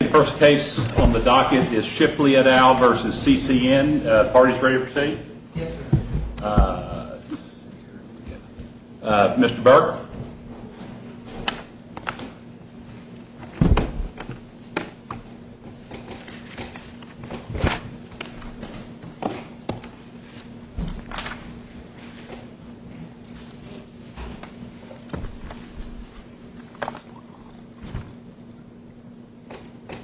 The first case on the docket is Shipley et al. v. CCN. The parties ready to proceed? Yes, sir. Mr. Burke?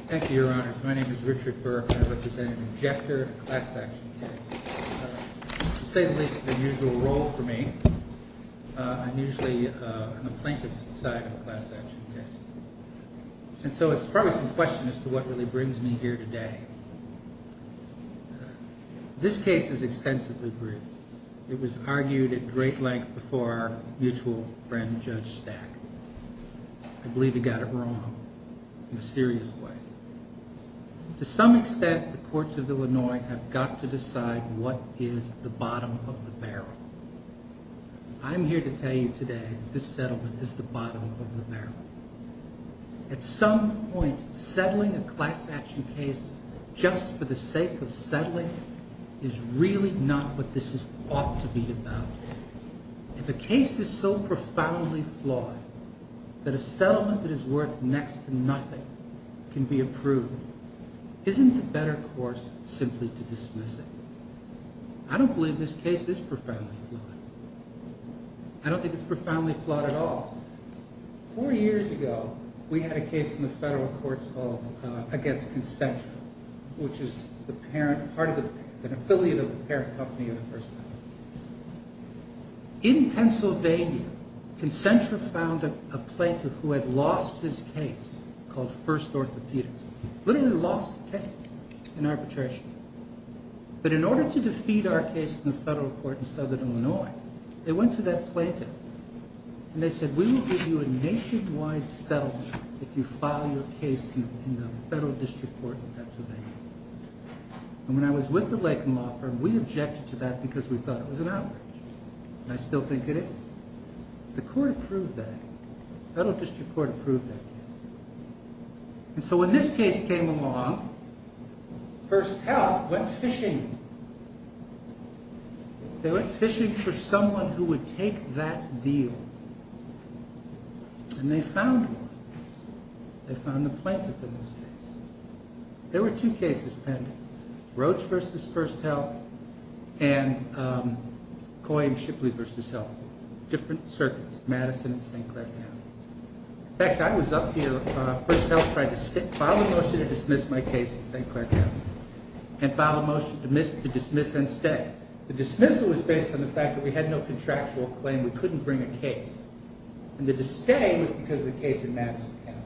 Thank you, Your Honors. My name is Richard Burke, and I represent an injector of a class action case. To say the least, it's an unusual role for me. I'm usually on the plaintiff's side of the class action case. And so it's probably some question as to what really brings me here today. This case is extensively briefed. It was argued at great length before our mutual friend, Judge Stack. I believe he got it wrong in a serious way. To some extent, the courts of Illinois have got to decide what is the bottom of the barrel. I'm here to tell you today that this settlement is the bottom of the barrel. At some point, settling a class action case just for the sake of settling is really not what this is ought to be about. If a case is so profoundly flawed that a settlement that is worth next to nothing can be approved, isn't the better course simply to dismiss it? I don't believe this case is profoundly flawed. I don't think it's profoundly flawed at all. Four years ago, we had a case in the federal courts against consensual, which is an affiliate of the parent company of the person. In Pennsylvania, consensual found a plaintiff who had lost his case, called First Orthopedics. Literally lost the case in arbitration. But in order to defeat our case in the federal court in southern Illinois, they went to that plaintiff. And they said, we will give you a nationwide settlement if you file your case in the federal district court in Pennsylvania. And when I was with the Lakeham law firm, we objected to that because we thought it was an outrage. And I still think it is. The court approved that. Federal district court approved that case. And so when this case came along, First Health went fishing. They went fishing for someone who would take that deal. And they found one. They found the plaintiff in this case. There were two cases pending. Roach v. First Health and Coyne-Shipley v. Health. Different circuits, Madison and St. Clair County. In fact, I was up here, First Health tried to file a motion to dismiss my case in St. Clair County. And file a motion to dismiss and stay. The dismissal was based on the fact that we had no contractual claim. We couldn't bring a case. And the stay was because of the case in Madison County.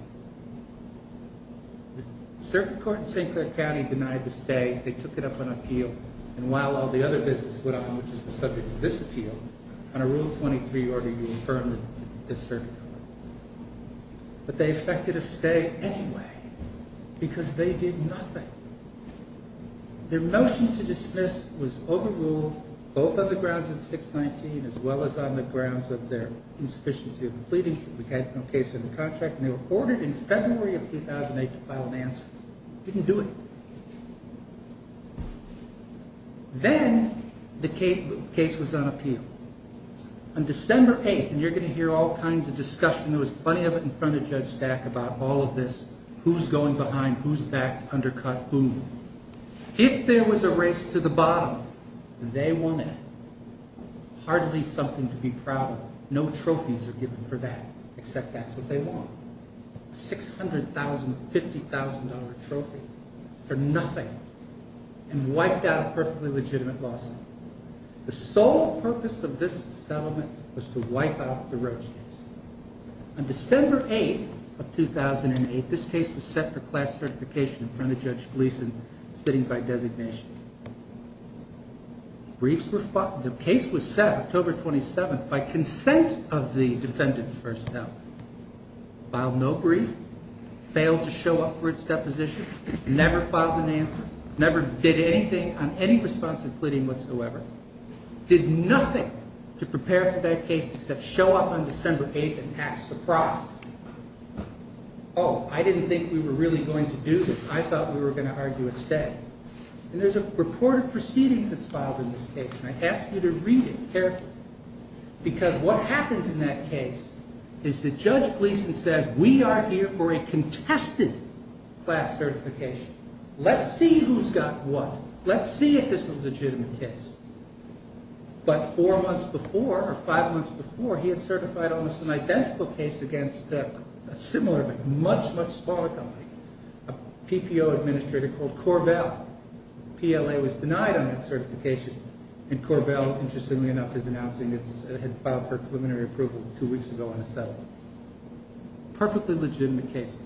The circuit court in St. Clair County denied the stay. They took it up on appeal. And while all the other business went on, which is the subject of this appeal, on a Rule 23 order, you affirm the circuit court. But they effected a stay anyway. Because they did nothing. Their motion to dismiss was overruled, both on the grounds of the 619, as well as on the grounds of their insufficiency of the pleadings. We had no case in the contract. And they were ordered in February of 2008 to file an answer. Didn't do it. Then the case was on appeal. On December 8th, and you're going to hear all kinds of discussion, there was plenty of it in front of Judge Stack about all of this, who's going behind, who's back, undercut, who. If there was a race to the bottom, they won it. Hardly something to be proud of. No trophies are given for that, except that's what they won. A $600,000, $50,000 trophy for nothing. And wiped out a perfectly legitimate lawsuit. The sole purpose of this settlement was to wipe out the Roach case. On December 8th of 2008, this case was set for class certification in front of Judge Gleason, sitting by designation. Briefs were filed. The case was set October 27th by consent of the defendant, first of all. Filed no brief. Failed to show up for its deposition. Never filed an answer. Never did anything on any responsive pleading whatsoever. Did nothing to prepare for that case, except show up on December 8th and act surprised. Oh, I didn't think we were really going to do this. I thought we were going to argue a stay. And there's a report of proceedings that's filed in this case. I want you to read it carefully. Because what happens in that case is that Judge Gleason says, we are here for a contested class certification. Let's see who's got what. Let's see if this is a legitimate case. But four months before, or five months before, he had certified almost an identical case against a similar, but much, much smaller company. A PPO administrator called Corvell. PLA was denied on that certification. And Corvell, interestingly enough, is announcing it had filed for preliminary approval two weeks ago in a settlement. Perfectly legitimate cases.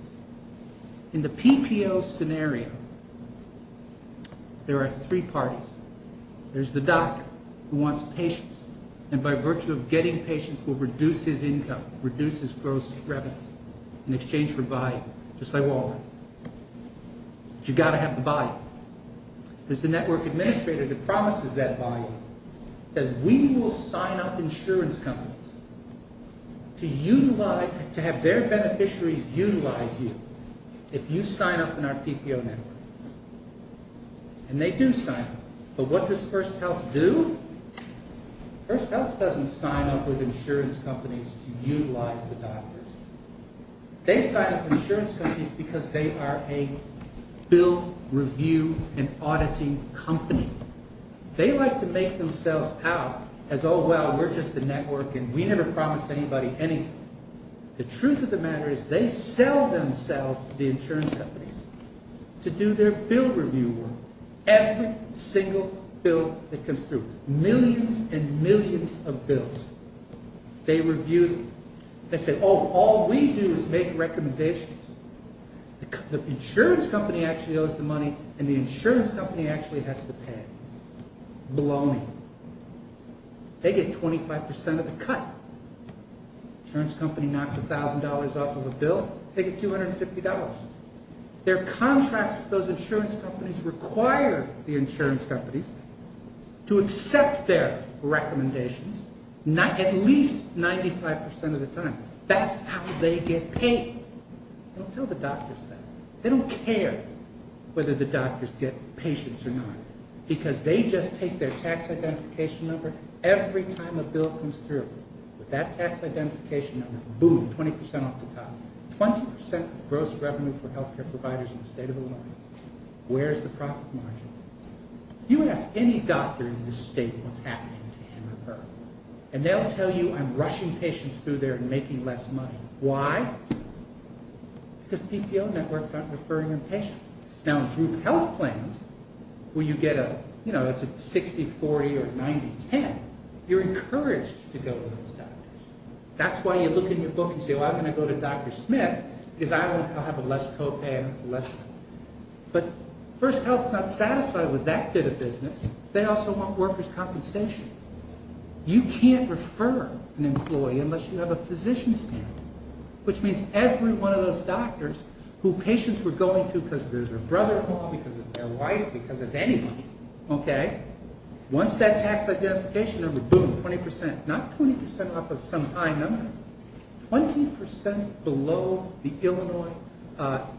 In the PPO scenario, there are three parties. There's the doctor, who wants patients. And by virtue of getting patients, will reduce his income, reduce his gross revenue, in exchange for value. Just like Walden. But you've got to have the value. There's the network administrator that promises that value. Says, we will sign up insurance companies to have their beneficiaries utilize you if you sign up in our PPO network. And they do sign up. But what does First Health do? First Health doesn't sign up with insurance companies to utilize the doctors. They sign up insurance companies because they are a bill review and auditing company. They like to make themselves out as, oh, well, we're just a network and we never promise anybody anything. The truth of the matter is they sell themselves to the insurance companies to do their bill review work. Every single bill that comes through. Millions and millions of bills. They review them. They say, oh, all we do is make recommendations. The insurance company actually owes the money and the insurance company actually has to pay. Baloney. They get 25% of the cut. Insurance company knocks $1,000 off of a bill. They get $250. Their contracts with those insurance companies require the insurance companies to accept their recommendations at least 95% of the time. That's how they get paid. They don't tell the doctors that. They don't care whether the doctors get patients or not because they just take their tax identification number every time a bill comes through. With that tax identification number, boom, 20% off the top. 20% of gross revenue for healthcare providers in the state of Illinois. Where's the profit margin? You ask any doctor in this state what's happening to him or her and they'll tell you I'm rushing patients through there and making less money. Why? Because PPO networks aren't referring them patients. Now in group health plans where you get a 60-40 or 90-10, you're encouraged to go to those doctors. That's why you look in your book and say I'm going to go to Dr. Smith because I'll have less co-pay and less. But First Health is not satisfied They also want workers' compensation. You can't refer an employee unless you have a physician's family. Which means every one of those doctors who patients were going to because of their brother-in-law, because of their wife, because of anybody, once that tax identification number, boom, 20%, not 20% off of some high number, 20% below the Illinois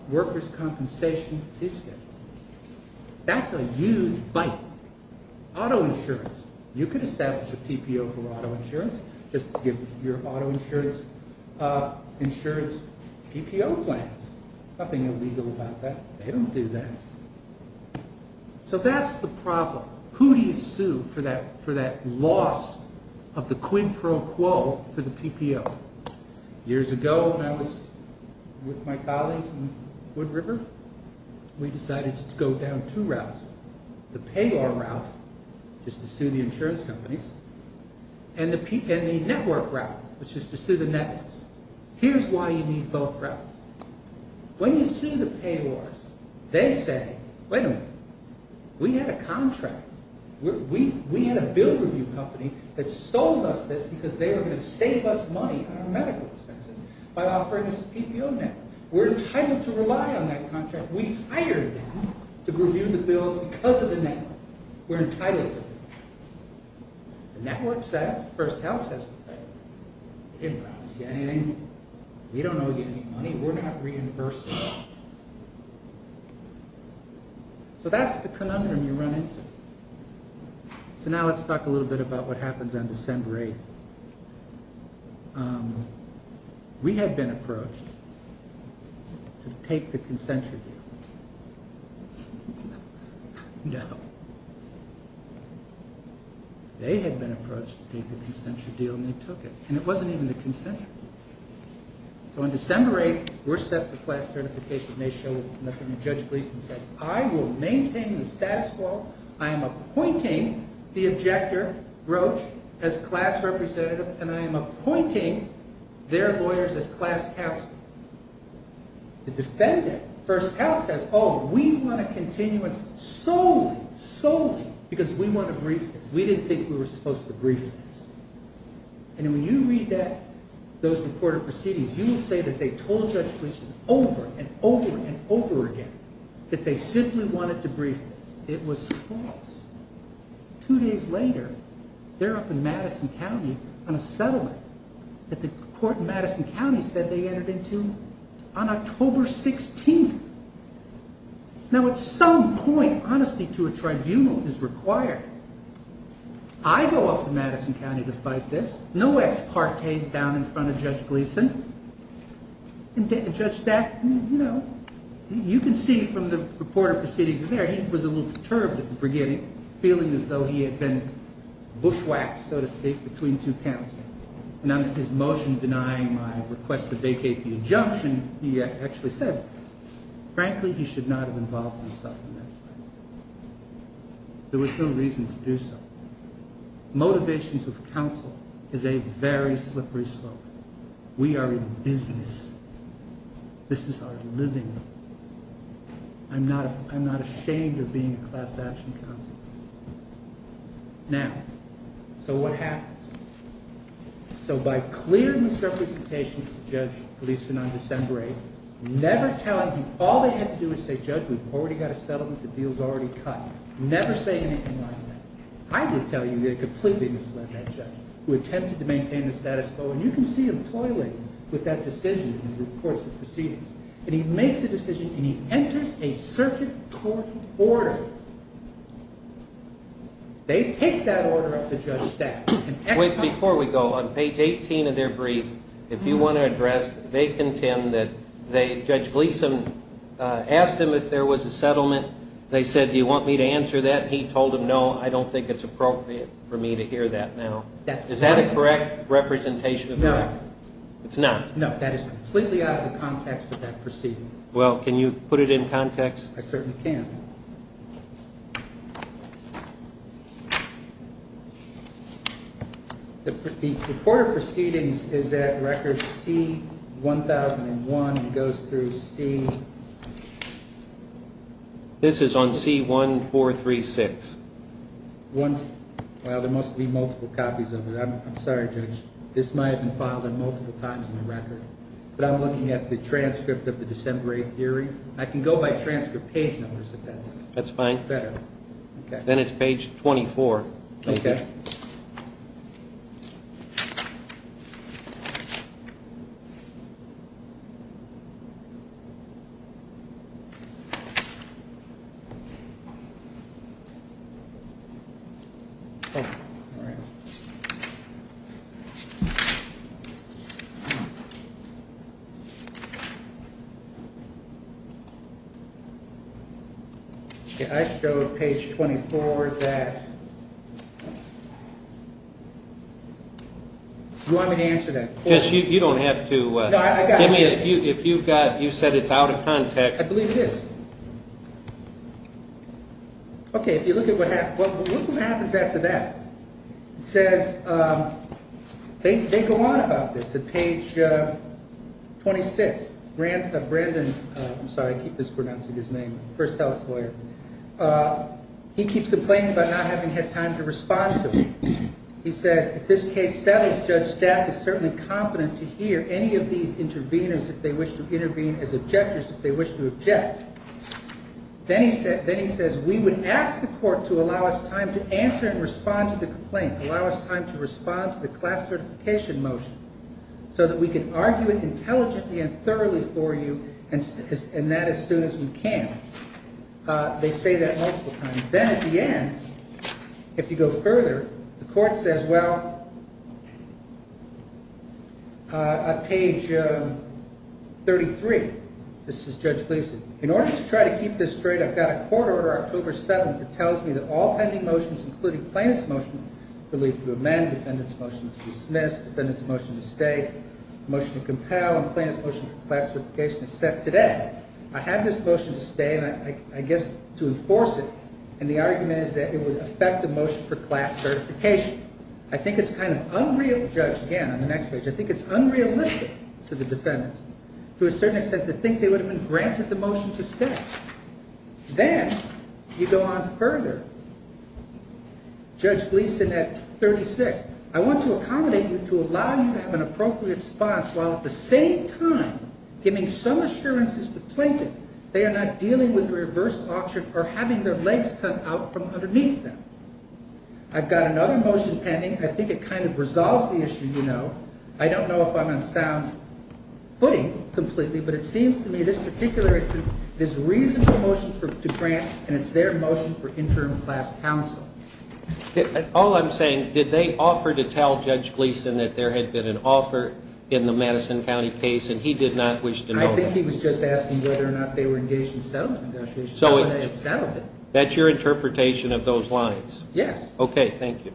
workers' compensation is scheduled. That's a huge bite. Auto insurance. You could establish a PPO for auto insurance just to give your auto insurance PPO plans. Nothing illegal about that. They don't do that. So that's the problem. Who do you sue for that loss of the quid pro quo for the PPO? Years ago, when I was with my colleagues in Wood River, we decided to go down two routes. The payor route, just to sue the insurance companies, and the network route, which is to sue the networks. Here's why you need both routes. When you sue the payors, they say, wait a minute, we had a contract. We had a bill review company that sold us this because they were going to save us money on our medical expenses by offering us a PPO network. We're entitled to rely on that contract. We hired them to review the bills because of the network. We're entitled to it. The network says, the first house says we're entitled to it. We didn't promise you anything. We don't owe you any money. We're not reimbursing you. So that's the conundrum you run into. So now let's talk a little bit about what happens on December 8th. We had been approached to take the consensual view. No. They had been approached to take the consensual deal and they took it. And it wasn't even the consensual. So on December 8th, we're set for class certification. Judge Gleason says, I will maintain the status quo. I am appointing the objector, Roach, as class representative and I am appointing their lawyers as class counsel. Judge Gleason says, oh, we want a continuance solely, solely because we want to brief this. We didn't think we were supposed to brief this. And when you read that, those reported proceedings, you will say that they told Judge Gleason over and over and over again that they simply wanted to brief this. It was false. Two days later, they're up in Madison County on a settlement that the court in Madison County said they entered into with the intent to brief Judge Gleason. Now, at some point, honesty to a tribunal is required. I go up to Madison County to fight this. No ex parte's down in front of Judge Gleason. And Judge Stack, you know, you can see from the reported proceedings there, he was a little perturbed at the beginning, feeling as though he had been bushwhacked, so to speak, between two panels. And on his motion denying my request that he should not have involved himself in that fight, there was no reason to do so. Motivations of counsel is a very slippery slope. We are in business. This is our living. I'm not ashamed of being a class action counsel. Now, so what happens? So by clearing these representations to Judge Gleason on December 8th, never telling him that all they had to do is say, Judge, we've already got a settlement. The deal's already cut. Never say anything like that. I will tell you, you're completely misled by that judge who attempted to maintain the status quo. And you can see him toiling with that decision in the reports and proceedings. And he makes a decision and he enters a circuit court order. They take that order up to Judge Stack. Asked him if there was a settlement. They said, do you want me to answer that? He told them, no, I don't think it's appropriate for me to hear that now. Is that a correct representation of that? No. It's not? No, that is completely out of the context of that proceeding. Well, can you put it in context? I certainly can. The court of proceedings is at record C-1001 and goes through to C... This is on C-1436. Well, there must be multiple copies of it. I'm sorry, Judge. This might have been filed multiple times in the record. But I'm looking at the transcript of the December 8th hearing. I can go by transcript page numbers if that's better. Then it's page 24. Okay. All right. I showed page 24 that... Do you want me to answer that? You don't have to. Give me... If you've got... You said it's out of context. I believe it is. Okay. If you look at what happens... Look what happens after that. It says... They go on about this at page 26. Brandon... I'm sorry. I keep mispronouncing his name. First tell us, lawyer. He keeps complaining about not having had time to respond to it. He says, if this case settles, Judge Staff is certainly competent to hear any of these interveners, if they wish to intervene as objectors, if they wish to object. Then he says, we would ask the court to allow us time to answer and respond to the complaint. Allow us time to respond to the class certification motion so that we can argue it intelligently and thoroughly for you, and that as soon as we can. They say that multiple times. Then at the end, if you go further, the court says, well... At page... 33. This is Judge Gleason. In order to try to keep this straight, I've got a court order October 7th that tells me that all pending motions, including plaintiff's motion to leave to amend, defendant's motion to dismiss, defendant's motion to stay, motion to compel, and plaintiff's motion for class certification is set today. and I guess to enforce it, and the argument is that it would affect the motion for class certification. I think it's kind of unreal, Judge, again, on the next page, I think it's unrealistic to the defendants to a certain extent to think they would have been granted the motion to stay. Then, you go on further. Judge Gleason at 36. I want to accommodate you to allow you to have an appropriate response while at the same time giving some assurances to the plaintiff they are not dealing with reverse auction or having their legs cut out from underneath them. I've got another motion pending. I think it kind of resolves the issue I don't know if I'm on sound footing completely, but it seems to me this particular is a reasonable motion to grant and it's their motion for interim class counsel. All I'm saying did they offer to tell Judge Gleason that there had been an offer in the Madison County case and he did not wish to know that? I think he was just asking whether or not they were engaged in settlement negotiations. That's your interpretation of those lines? Yes. Okay, thank you.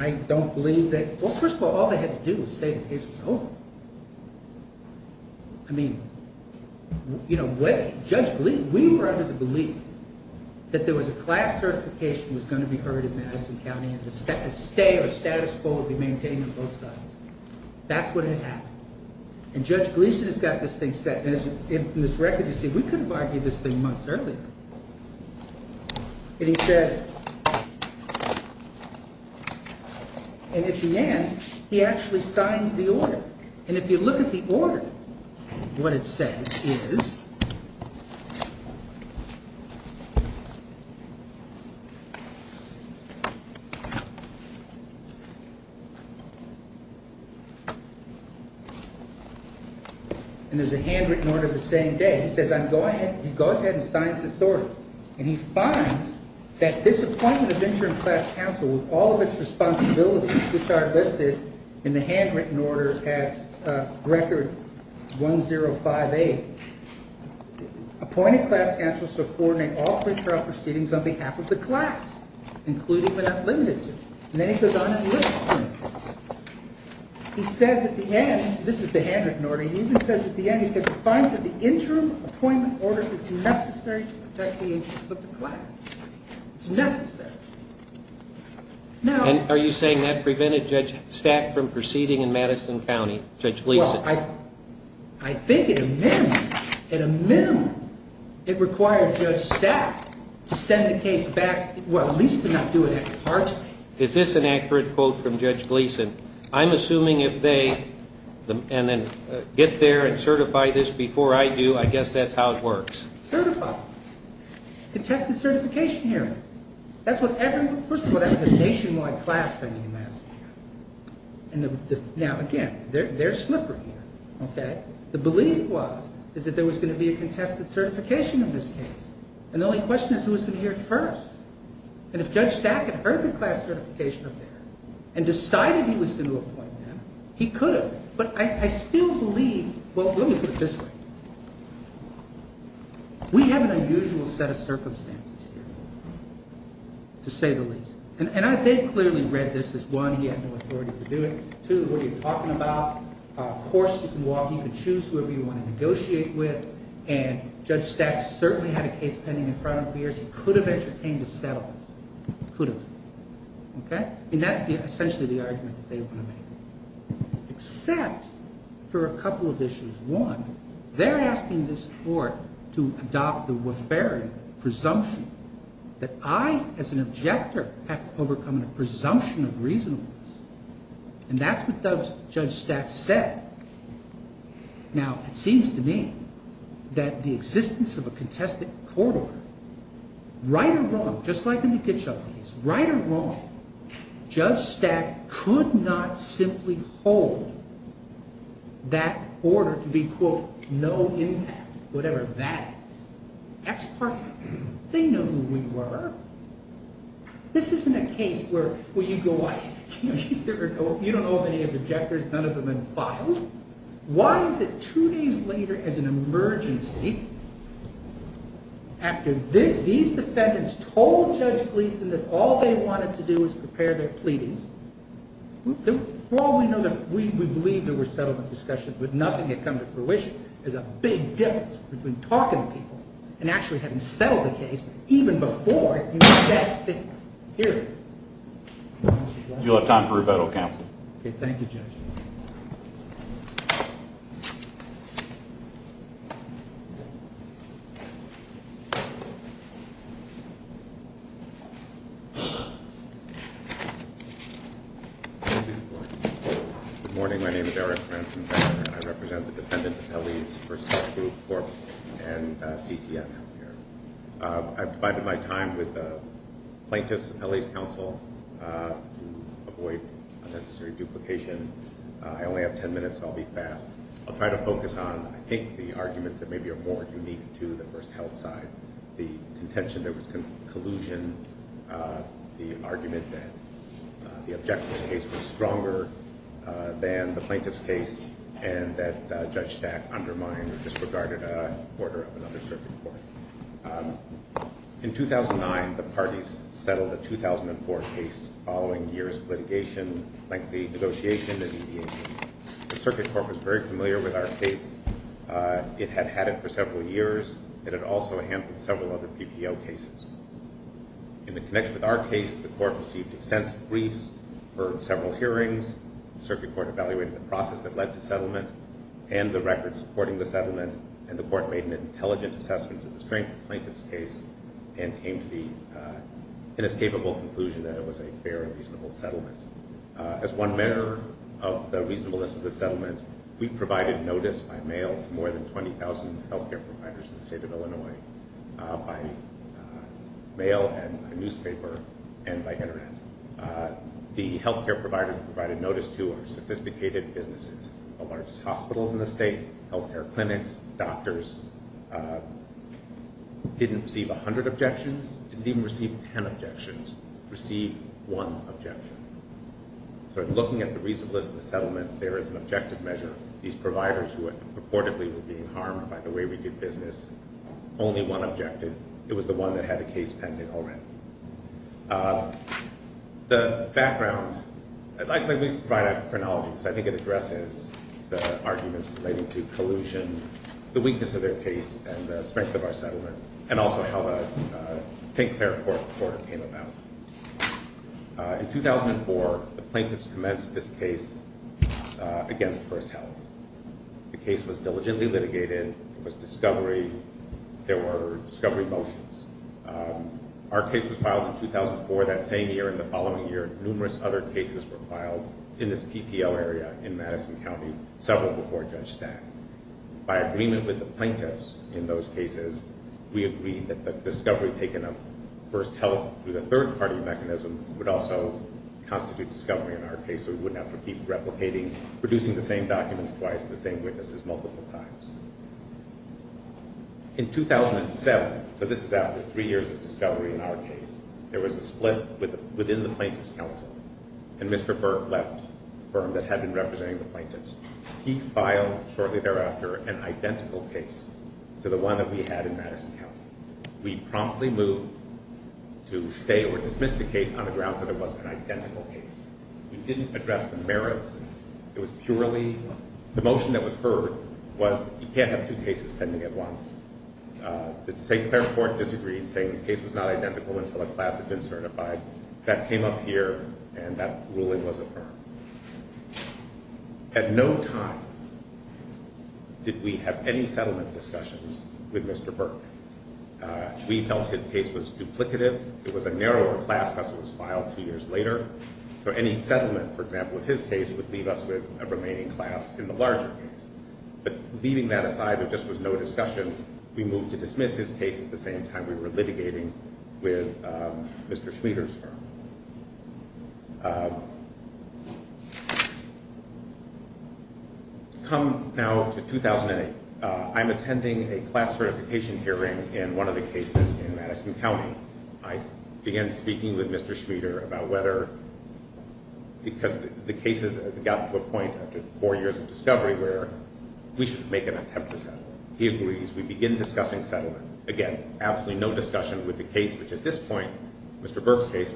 I don't believe that well first of all all they had to do was say the case was over. I mean you know Judge Gleason we were under the belief that there was a class certification that was going to be heard in Madison County and a stay or status quo would be maintained on both sides. That's what had happened. And Judge Gleason has got this thing set and from this record you see we could have argued this thing months earlier. And he says and at the end he actually signs the order. And if you look at the order what it says is and there's a handwritten order the same day he says go ahead and sign this order. And he finds that this order this appointment of interim class counsel with all of it's responsibilities which are listed in the handwritten order at record 1058 appointed class counsel so coordinate all federal proceedings on behalf of the class including but not limited to. And then he goes on and lists them. He says at the end this is the handwritten order he even says at the end he finds that the interim appointment order is necessary to protect the interests of the class. It's necessary. Now And are you saying that prevented Judge Stack from proceeding in Madison County Judge Gleason? Well I I think at a minimum at a minimum it required Judge Stack to send the case back well at least to not do it at heart. Is this an accurate quote from Judge Gleason? I'm assuming if they and then get there and certify this before I do I guess that's how it works. Certify Contested certification hearing. That's what first of all that was a nationwide class pending in Madison County. Now again they're slippery here. Okay. The belief was is that there was going to be a contested certification of this case. And the only question is who was going to hear it first. And if Judge Stack had heard the class certification up there and decided he was going to appoint them he could have. But I still believe well let me put it this way. We have an unusual set of circumstances here. To say the least. And I think clearly read this as one he had no authority to do it. Two what you're talking about of course you can walk you can choose whoever you want to negotiate with. And Judge Stack certainly had a case pending in front of him for years. He could have entertained a settlement. Could have. Okay. And that's the essentially the argument that they want to make. Except for a couple of issues. One they're asking this court to adopt the Waverian presumption that I as an objector have to overcome a presumption of reasonableness. And that's what Judge Stack said. Now it seems to me that the existence of a contested court order right or wrong just like in the Kitchell case right or wrong Judge Stack could not simply hold that order to be quote no impact whatever that is. That's perfect. They know who we were. This isn't a case where you go you don't know many of the objectors none of them have been filed. Why is it two days later as an emergency after these defendants told Judge Gleeson that all they wanted to do was prepare their pleadings before we know that we believe there were settlement discussions but nothing had come to fruition as a big difference between talking to people and actually having settled the case even before you said that thing. You'll have time for rebuttal, counsel. Thank you, Judge. Good morning. My name is Eric. I represent the defendant first group and CCM. I've divided my time with the plaintiffs and LA's counsel avoid unnecessary duplication. I only have 10 minutes. I'll be fast. I'll try to focus on I think the arguments that maybe are more unique to the first health side. The contention that was collusion the argument that the objectors case was stronger than the plaintiff's case and that Judge Stack undermined or disregarded an order of another circuit court. In 2009, the parties settled the 2004 case following years of litigation, lengthy negotiation, and mediation. was very familiar with our case. It had had it for several years. It had also handled several other PPO cases. In the connection with our case, the court received extensive briefs, heard several hearings, circuit court evaluated the process that led to settlement, and the records supporting the settlement, and the court made an intelligent assessment of the strength of the plaintiff's case, and came to the inescapable conclusion that it was a fair and reasonable settlement. As one measure of the reasonableness of the settlement, we provided notice by mail to more than 20,000 health care providers in the state of Illinois, by mail and newspaper and by internet. The health care providers provided notice to our sophisticated businesses, the largest hospitals in the state, health care clinics, doctors, didn't receive a hundred objections, didn't even receive ten objections, received one objection. So in looking at the reasonableness of the settlement, there is an objective measure, these providers who were purportedly being harmed by the way we did business, only one objective, it was the one that had the weakness of their case and the strength of our settlement and also how the St. Clair court came about. In 2004, the plaintiffs commenced this case against First Health. The case was diligently litigated, it was discovery, there were discovery motions. Our case was filed in 2004, that same year and the following year, numerous other cases were filed in this PPL area in Madison County, several before Judge Stack. By agreement with the plaintiffs in those cases, we agreed that the discovery taken of First Health through the third-party mechanism would also constitute discovery in our case so we wouldn't have to keep replicating, producing the same documents twice, the same witnesses multiple times. In 2007, so this is after three years of discovery in our case, there was a split within the plaintiffs council and Mr. Burke left the firm that had been representing the plaintiffs. He filed shortly thereafter an identical case to the one that we had in Madison County. We promptly moved to stay or dismiss the case on the grounds that it was an identical case. We didn't address the merits. It was purely, the motion that was heard was you can't have two cases pending at once. The state was not identical until a class had been certified. That came up here and that ruling was affirmed. At no time did we have any settlement discussions with Mr. Burke. We felt his case was duplicative. It was a narrower class because it was filed two years later. So any settlement, for example, with his case would leave us with a remaining class in the larger case. Leaving that aside, there was no discussion. We moved to dismiss his case at the same time we were litigating with Mr. Schmieder's firm. Come now to 2008, I'm attending a class certification hearing in one of the cases in Madison County. I began speaking with Mr. Schmieder about whether because the case has gotten to a point after four years of discovery where we should make an attempt to settle. He agrees. We begin discussing settlement. Again, absolutely no discussion with the case which at this time a case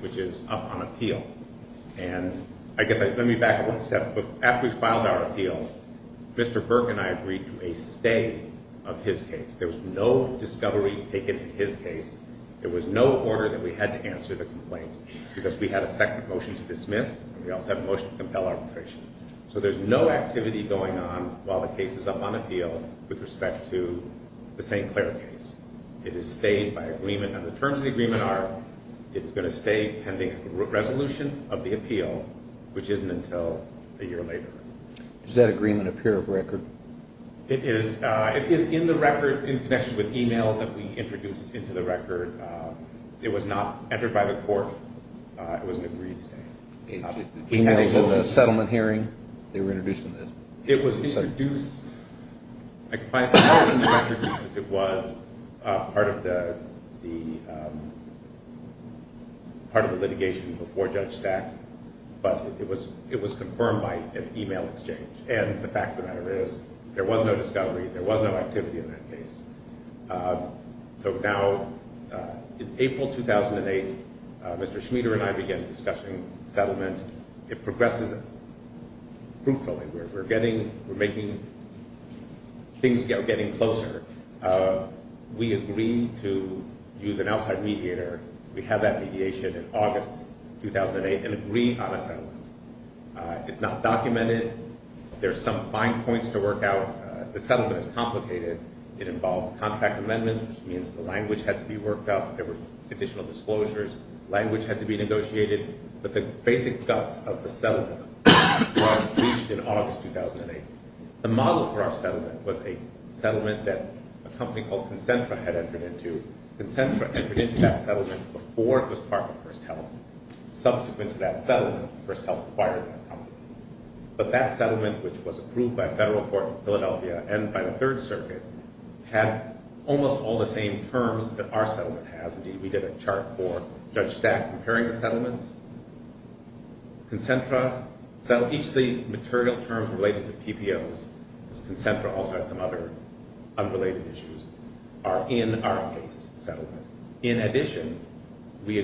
of discovery taken in his case. There was no order that we had to answer the complaint because we had a second motion to dismiss. We also have a motion to compel arbitration. So there's no activity going on while the case is on appeal with respect to the St. Clair case. It has stayed by agreement. The terms of the agreement are it's going to stay pending resolution of the appeal which isn't until a year later. Does that agreement appear of record? It is in the record in connection with e-mails that we introduced into the record. It was not entered by the court. It was an agreed statement. It was introduced because it was part of the litigation before Judge Stack, but it was confirmed by an e-mail exchange. And the fact of the matter is there was no discovery. There was no activity in that case. So now in April 2008, Mr. Schmider and I began discussing settlement. It progresses fruitfully. We're making things getting closer. We agree to use an outside mediator. We have that in place. The settlement is complicated. It involves contract amendments. Language had to be negotiated. But the basic guts of the settlement was reached in August 2008. The model for our settlement was a contract settlement. But that settlement, which was approved by the third circuit, had almost all the same terms that our settlement has. Each of the material terms related to PBOs are in our case settlement. In addition, we have a binding settlement agreement pursuant to a term sheet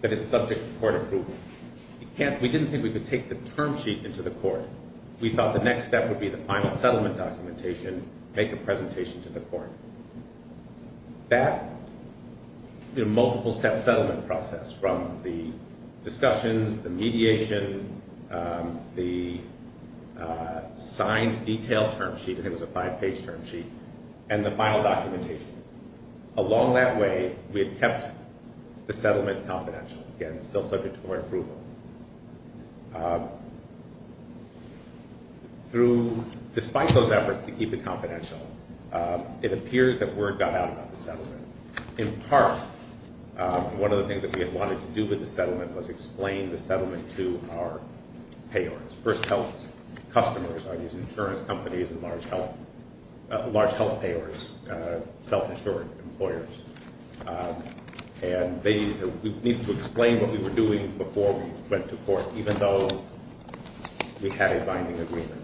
that is subject to court approval. We didn't think we could take the term sheet into the court. We thought the next step would be the final settlement documentation, make a presentation to the court. That multiple-step process, from the discussions, the mediation, the signed detail term sheet, I think it was a five-page term sheet, and the final documentation. Along that way, we had kept the settlement confidential, again, still subject to court approval. Despite those efforts to keep it confidential, it appears that word got out about the settlement. In part, one of the things we wanted to do with the settlement was explain the settlement to our payors, first health customers, insurance companies, large health payors, self-insured employers. And we needed to explain what we were doing before we went to court, even though we had a binding agreement.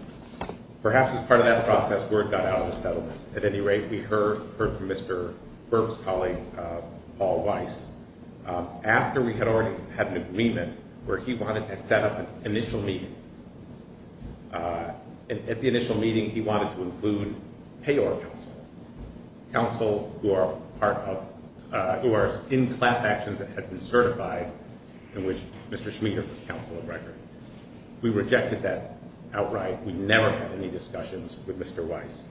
Perhaps as part of that process, word got out of the settlement. At any rate, we heard from Mr. Burke's colleague, Paul Weiss, after we had already had an initial meeting. At the initial meeting, he wanted to include payor counsel, counsel who are in class actions that have been certified in which Mr. Schmieder was counsel of record. We rejected that outright. We never had any discussions with Mr. Weiss.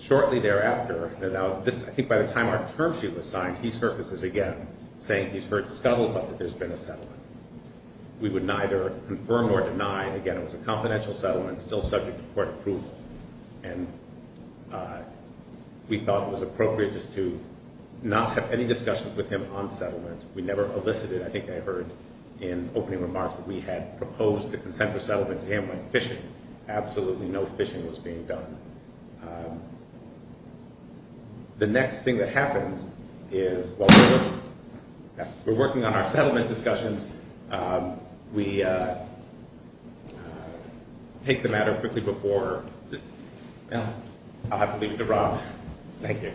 Shortly thereafter, I think by the time our term sheet was signed, he surfaces again saying he's heard scuttled about that there's been a settlement. We would neither confirm nor deny. Again, it was a confidential settlement, still subject to court approval, and we thought it was appropriate just to not have any discussions with him on settlement. We never elicited, I think I believe, with Mr. Schmieder. What happens is we're working on our settlement discussions. We take the matter quickly before I'll have to leave it to Rob. Thank you.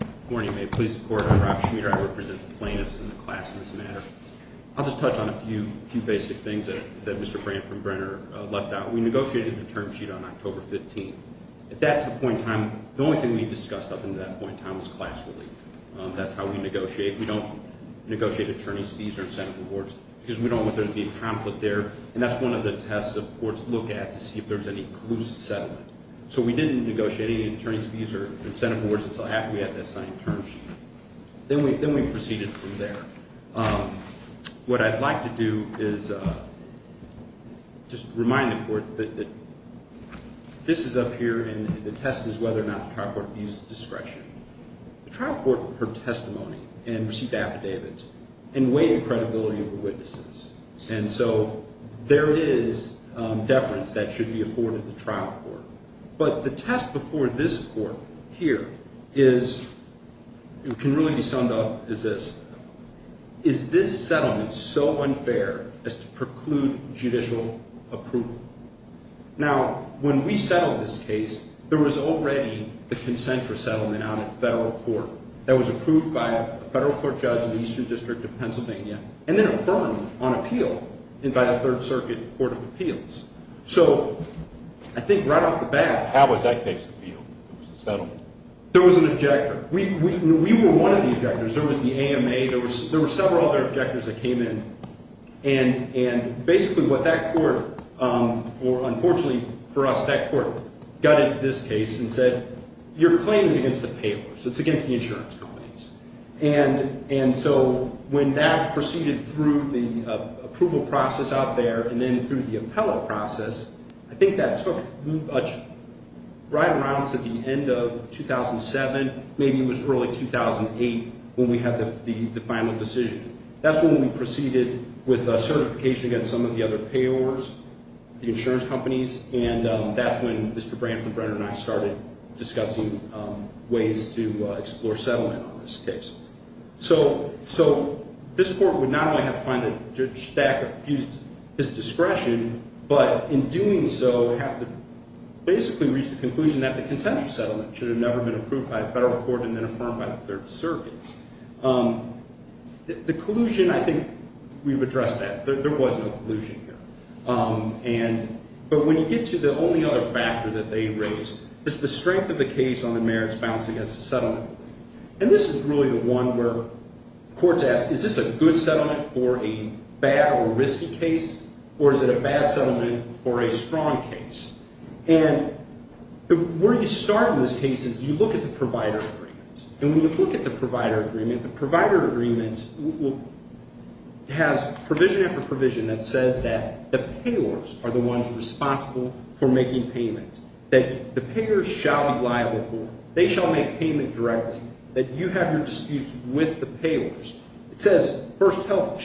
Good morning. May it please the court, I'm Rob Schmieder. I represent the plaintiffs in the class in this matter. I'll just touch on a few basic things that Mr. Brandt from Brenner left out. We negotiated the term sheet on October 15th. At that point in time, the only thing we discussed was class relief. That's how we negotiate. We don't negotiate attorney's fees or incentive awards because we don't want there to be an exclusive settlement. So we didn't negotiate any attorney's fees or incentive awards until after we had that signed term sheet. Then we proceeded from there. What I'd like to do is just remind the court that this is up here and the test is whether or not there is deference that should be afforded to the trial court. But the test before this court here can really be summed up as this. Is this settlement so unfair as to preclude judicial approval? Now, when we settled this case, there was already the consent for settlement out of the federal court that was approved by a federal court judge in the eastern district of Pennsylvania and then affirmed on appeal by a third circuit court of appeals. So I think right off the bat there was an objector. We were one of the objectors. There was the AMA. There were several other objectors that came in. And basically what that court or, unfortunately for us, that court gutted this case and said, your claim is against the payors. It's against the insurance companies. And so when that proceeded through the approval process out there and then through the appellate process, I think that took right around to the end of 2007. Maybe it was early 2008 when we had the final decision. That's when we proceeded with certification against some of the other payors, the insurance companies, and that's when Mr. Branford Brenner and I started discussing ways to explore settlement on this case. So this court would not only have to find that Judge Stacker used his discretion, but in doing so have to basically reach the conclusion that the consensual settlement should have approved by the federal court and then affirmed by the third circuit. The collusion, I think we've addressed that. There was no collusion here. But when you get to the only other factor that they raised, it's the strength of the case on the merits balance against the settlement. And this is really the one where courts ask is this a good settlement for a bad or risky case or is it a bad settlement for a risky case. And they say that the payors are the ones responsible for making payment. That the payors shall be liable for it. They shall make payment directly. That you have your disputes with the payors. It says that the payors are the ones responsible for making payment. And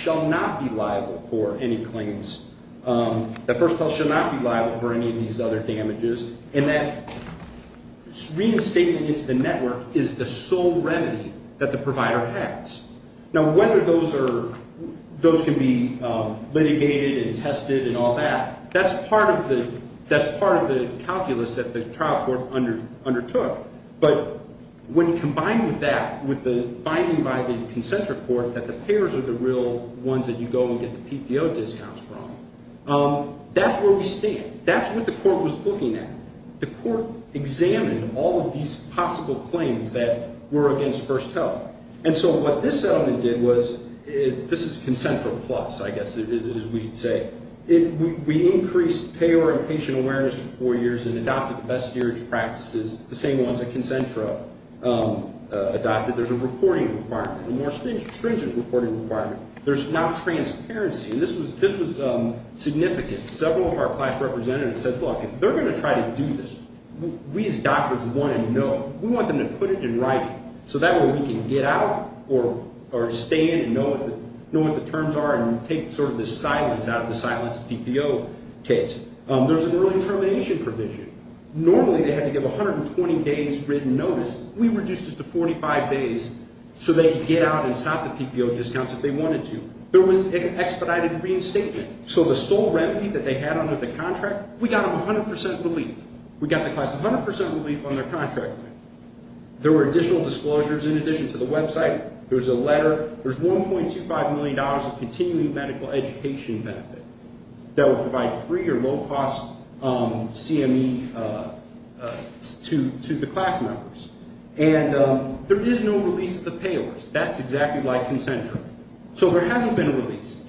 that's where we stand. That's what the court was looking at. The court examined all of these possible claims that were against First Health. And so what this settlement did was this is concentra plus. We increased payor awareness for four years and adopted the same practices. There's a reporting requirement. There's now transparency. This was significant. Several of our class representatives said if they're going to try to do this, we want them to put it in writing so that we can get out or stay in and know what the terms are and take the silence out of the silence PPO case. There's an early termination provision. Normally they had to give 120 days written notice. We reduced it to 45 days. There were additional disclosures in addition to the website. There's $1.25 million of continuing medical education benefit that would provide free or low-cost CME to the class members. There is no release of the payors. That's exactly like concentra. There hasn't been a release.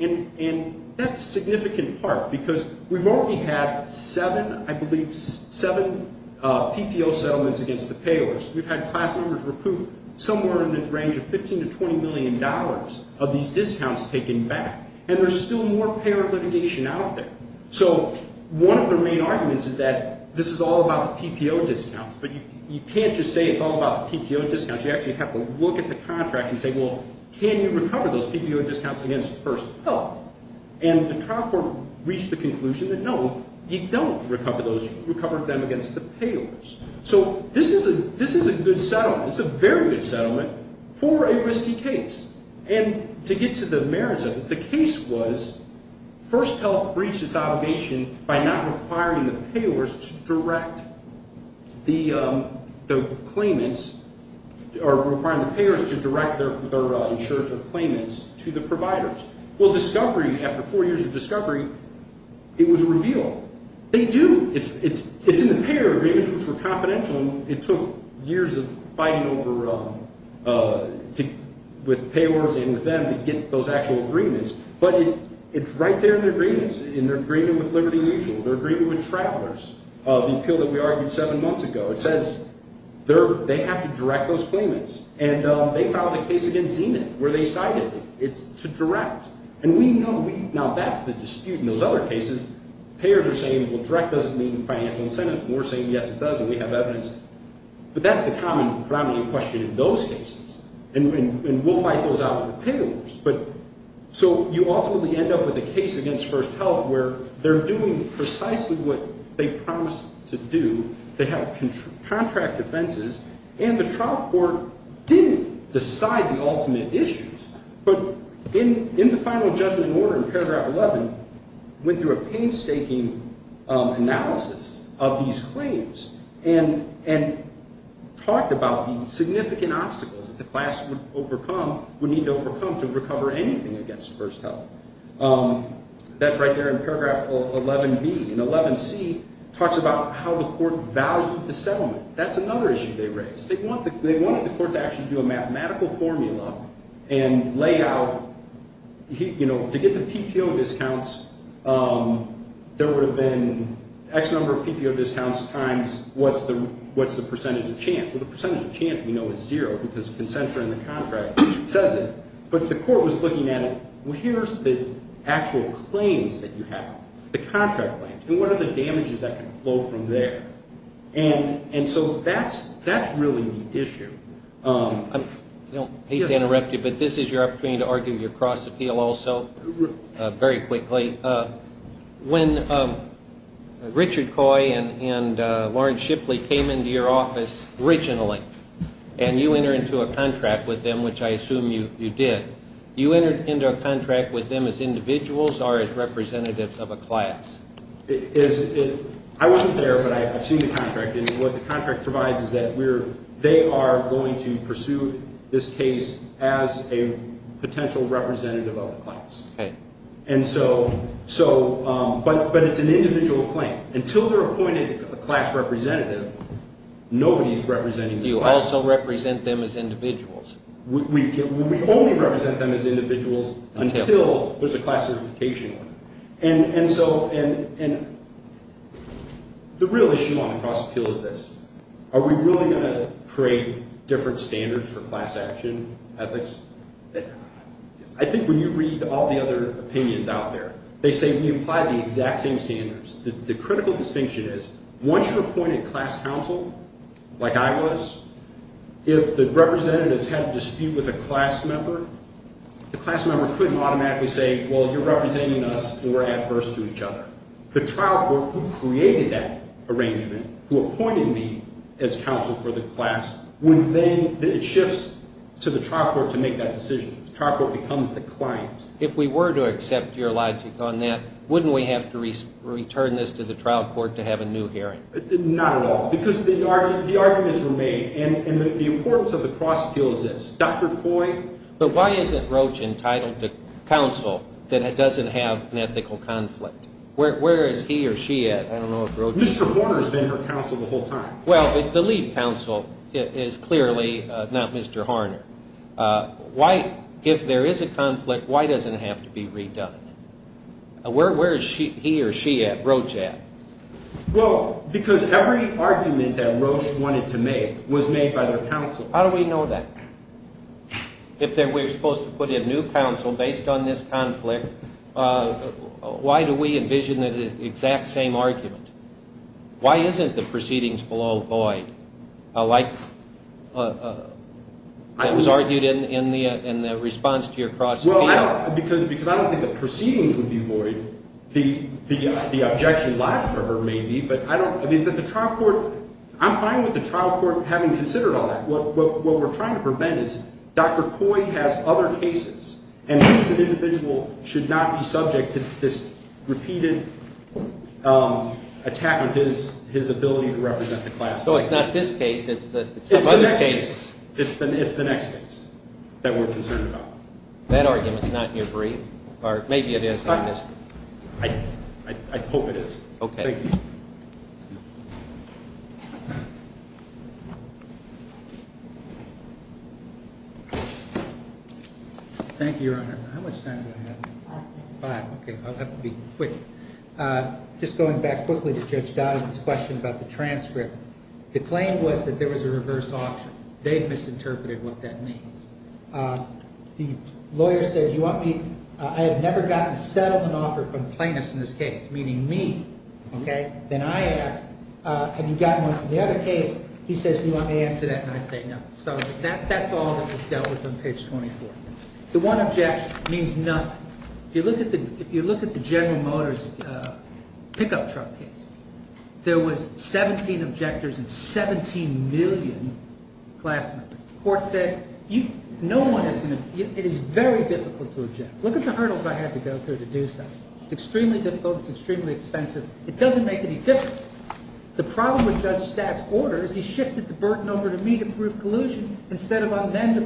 That's a significant part because we've already had seven PPO settlements against the payors. We've had class members recoup somewhere in the range of $15 to $20 million of these discounts taken back. There's still more payor litigation out there. One of the main arguments is that this is all about making sure that we recover those PPO discounts against first health. The trial court reached the conclusion that no, you don't recover them against the payors. This is a very good settlement for a risky case. To get to the merits of it, the case was first health breached by not requiring the payors to direct the claimants or requiring the payors to direct their insurance or claimants to the providers. After four years of discovery, it was revealed. They do. It's in the payor agreements which were confidential. It took years of fighting with payors and with them to get the claimants to direct the claimants. They filed a case where they cited it to direct. Now, that's the dispute in those other cases. Payors are saying direct doesn't mean financial incentives. That's the common question in those cases. And we'll fight those out with payors. So you ultimately end up with a case against First Health where they're doing precisely what they promised to do. They have contract defenses and the trial court didn't decide the ultimate issues but in the final judgment order in paragraph 11 went through a painstaking analysis of these claims and talked about the significant obstacles the class would need to overcome to recover anything against First Health. That's right there in paragraph 11B. And 11C talks about how the court valued the settlement. That's another issue they raised. They wanted the court to actually do a mathematical formula and lay out, you know, to get the percentage of chance. The percentage of chance we know is zero because the contract says it. But the court was looking at it, here's the actual claims that you have, the contract claims, and what are the damages that can flow from there. And so that's really the issue. I don't hate to interrupt you but this is your opportunity to answer your couple questions. Please do. So Lauren Schipley came into your office originally and you entered into a contract with them which I assume you did. Did you enter into a contract with them as individuals or as representatives of a class? I wasn't there but I've seen the contract and what the contract provides is that they are going to pursue this case as a potential representative of a class. But it's an individual claim. Until they're appointed a class representative nobody's representing the class. Do you also represent them as individuals? We only represent them as individuals until there's a class certification. And so the real issue on the cross appeal is this. Are we really going to create different standards for class action, ethics? I think when you read all the other opinions out there they say we apply the exact same standards. The critical distinction is once you're appointed class counsel like I was, if the representatives had a dispute with a class member the class member couldn't automatically say well you're representing us and we're adverse to each other. The class member make the decision on his own. He can't make the decision on his own. He can't make the decision on his own. If there is a conflict why doesn't it have to be redone? Where is he or she at, Roche at? Because every argument Roche wanted to make was made by their counsel. How do we know that? If we're supposed to put in new counsel based on this conflict, why do we envision the exact same argument? Why isn't the proceedings below void like that was argued in the response to your cross-examination? Because I don't think the proceedings would be void. The objection left over may be, but I'm fine with the trial court having to trial court having do case And I'm not in favor of that case. I'm not in favor of that case. I'm not in favor of that case. that and sentence say what you are doing and your case is not in favor of that case. The one objection means nothing. If you look at the General Motors pickup truck case, there was 17 objectors and 17 million class members. The court said, it is very difficult to object. Look at the hurdles I had to go through. It doesn't make any difference. The problem with Judge Statt's order is he shifted the burden over to me to prove collusion instead of them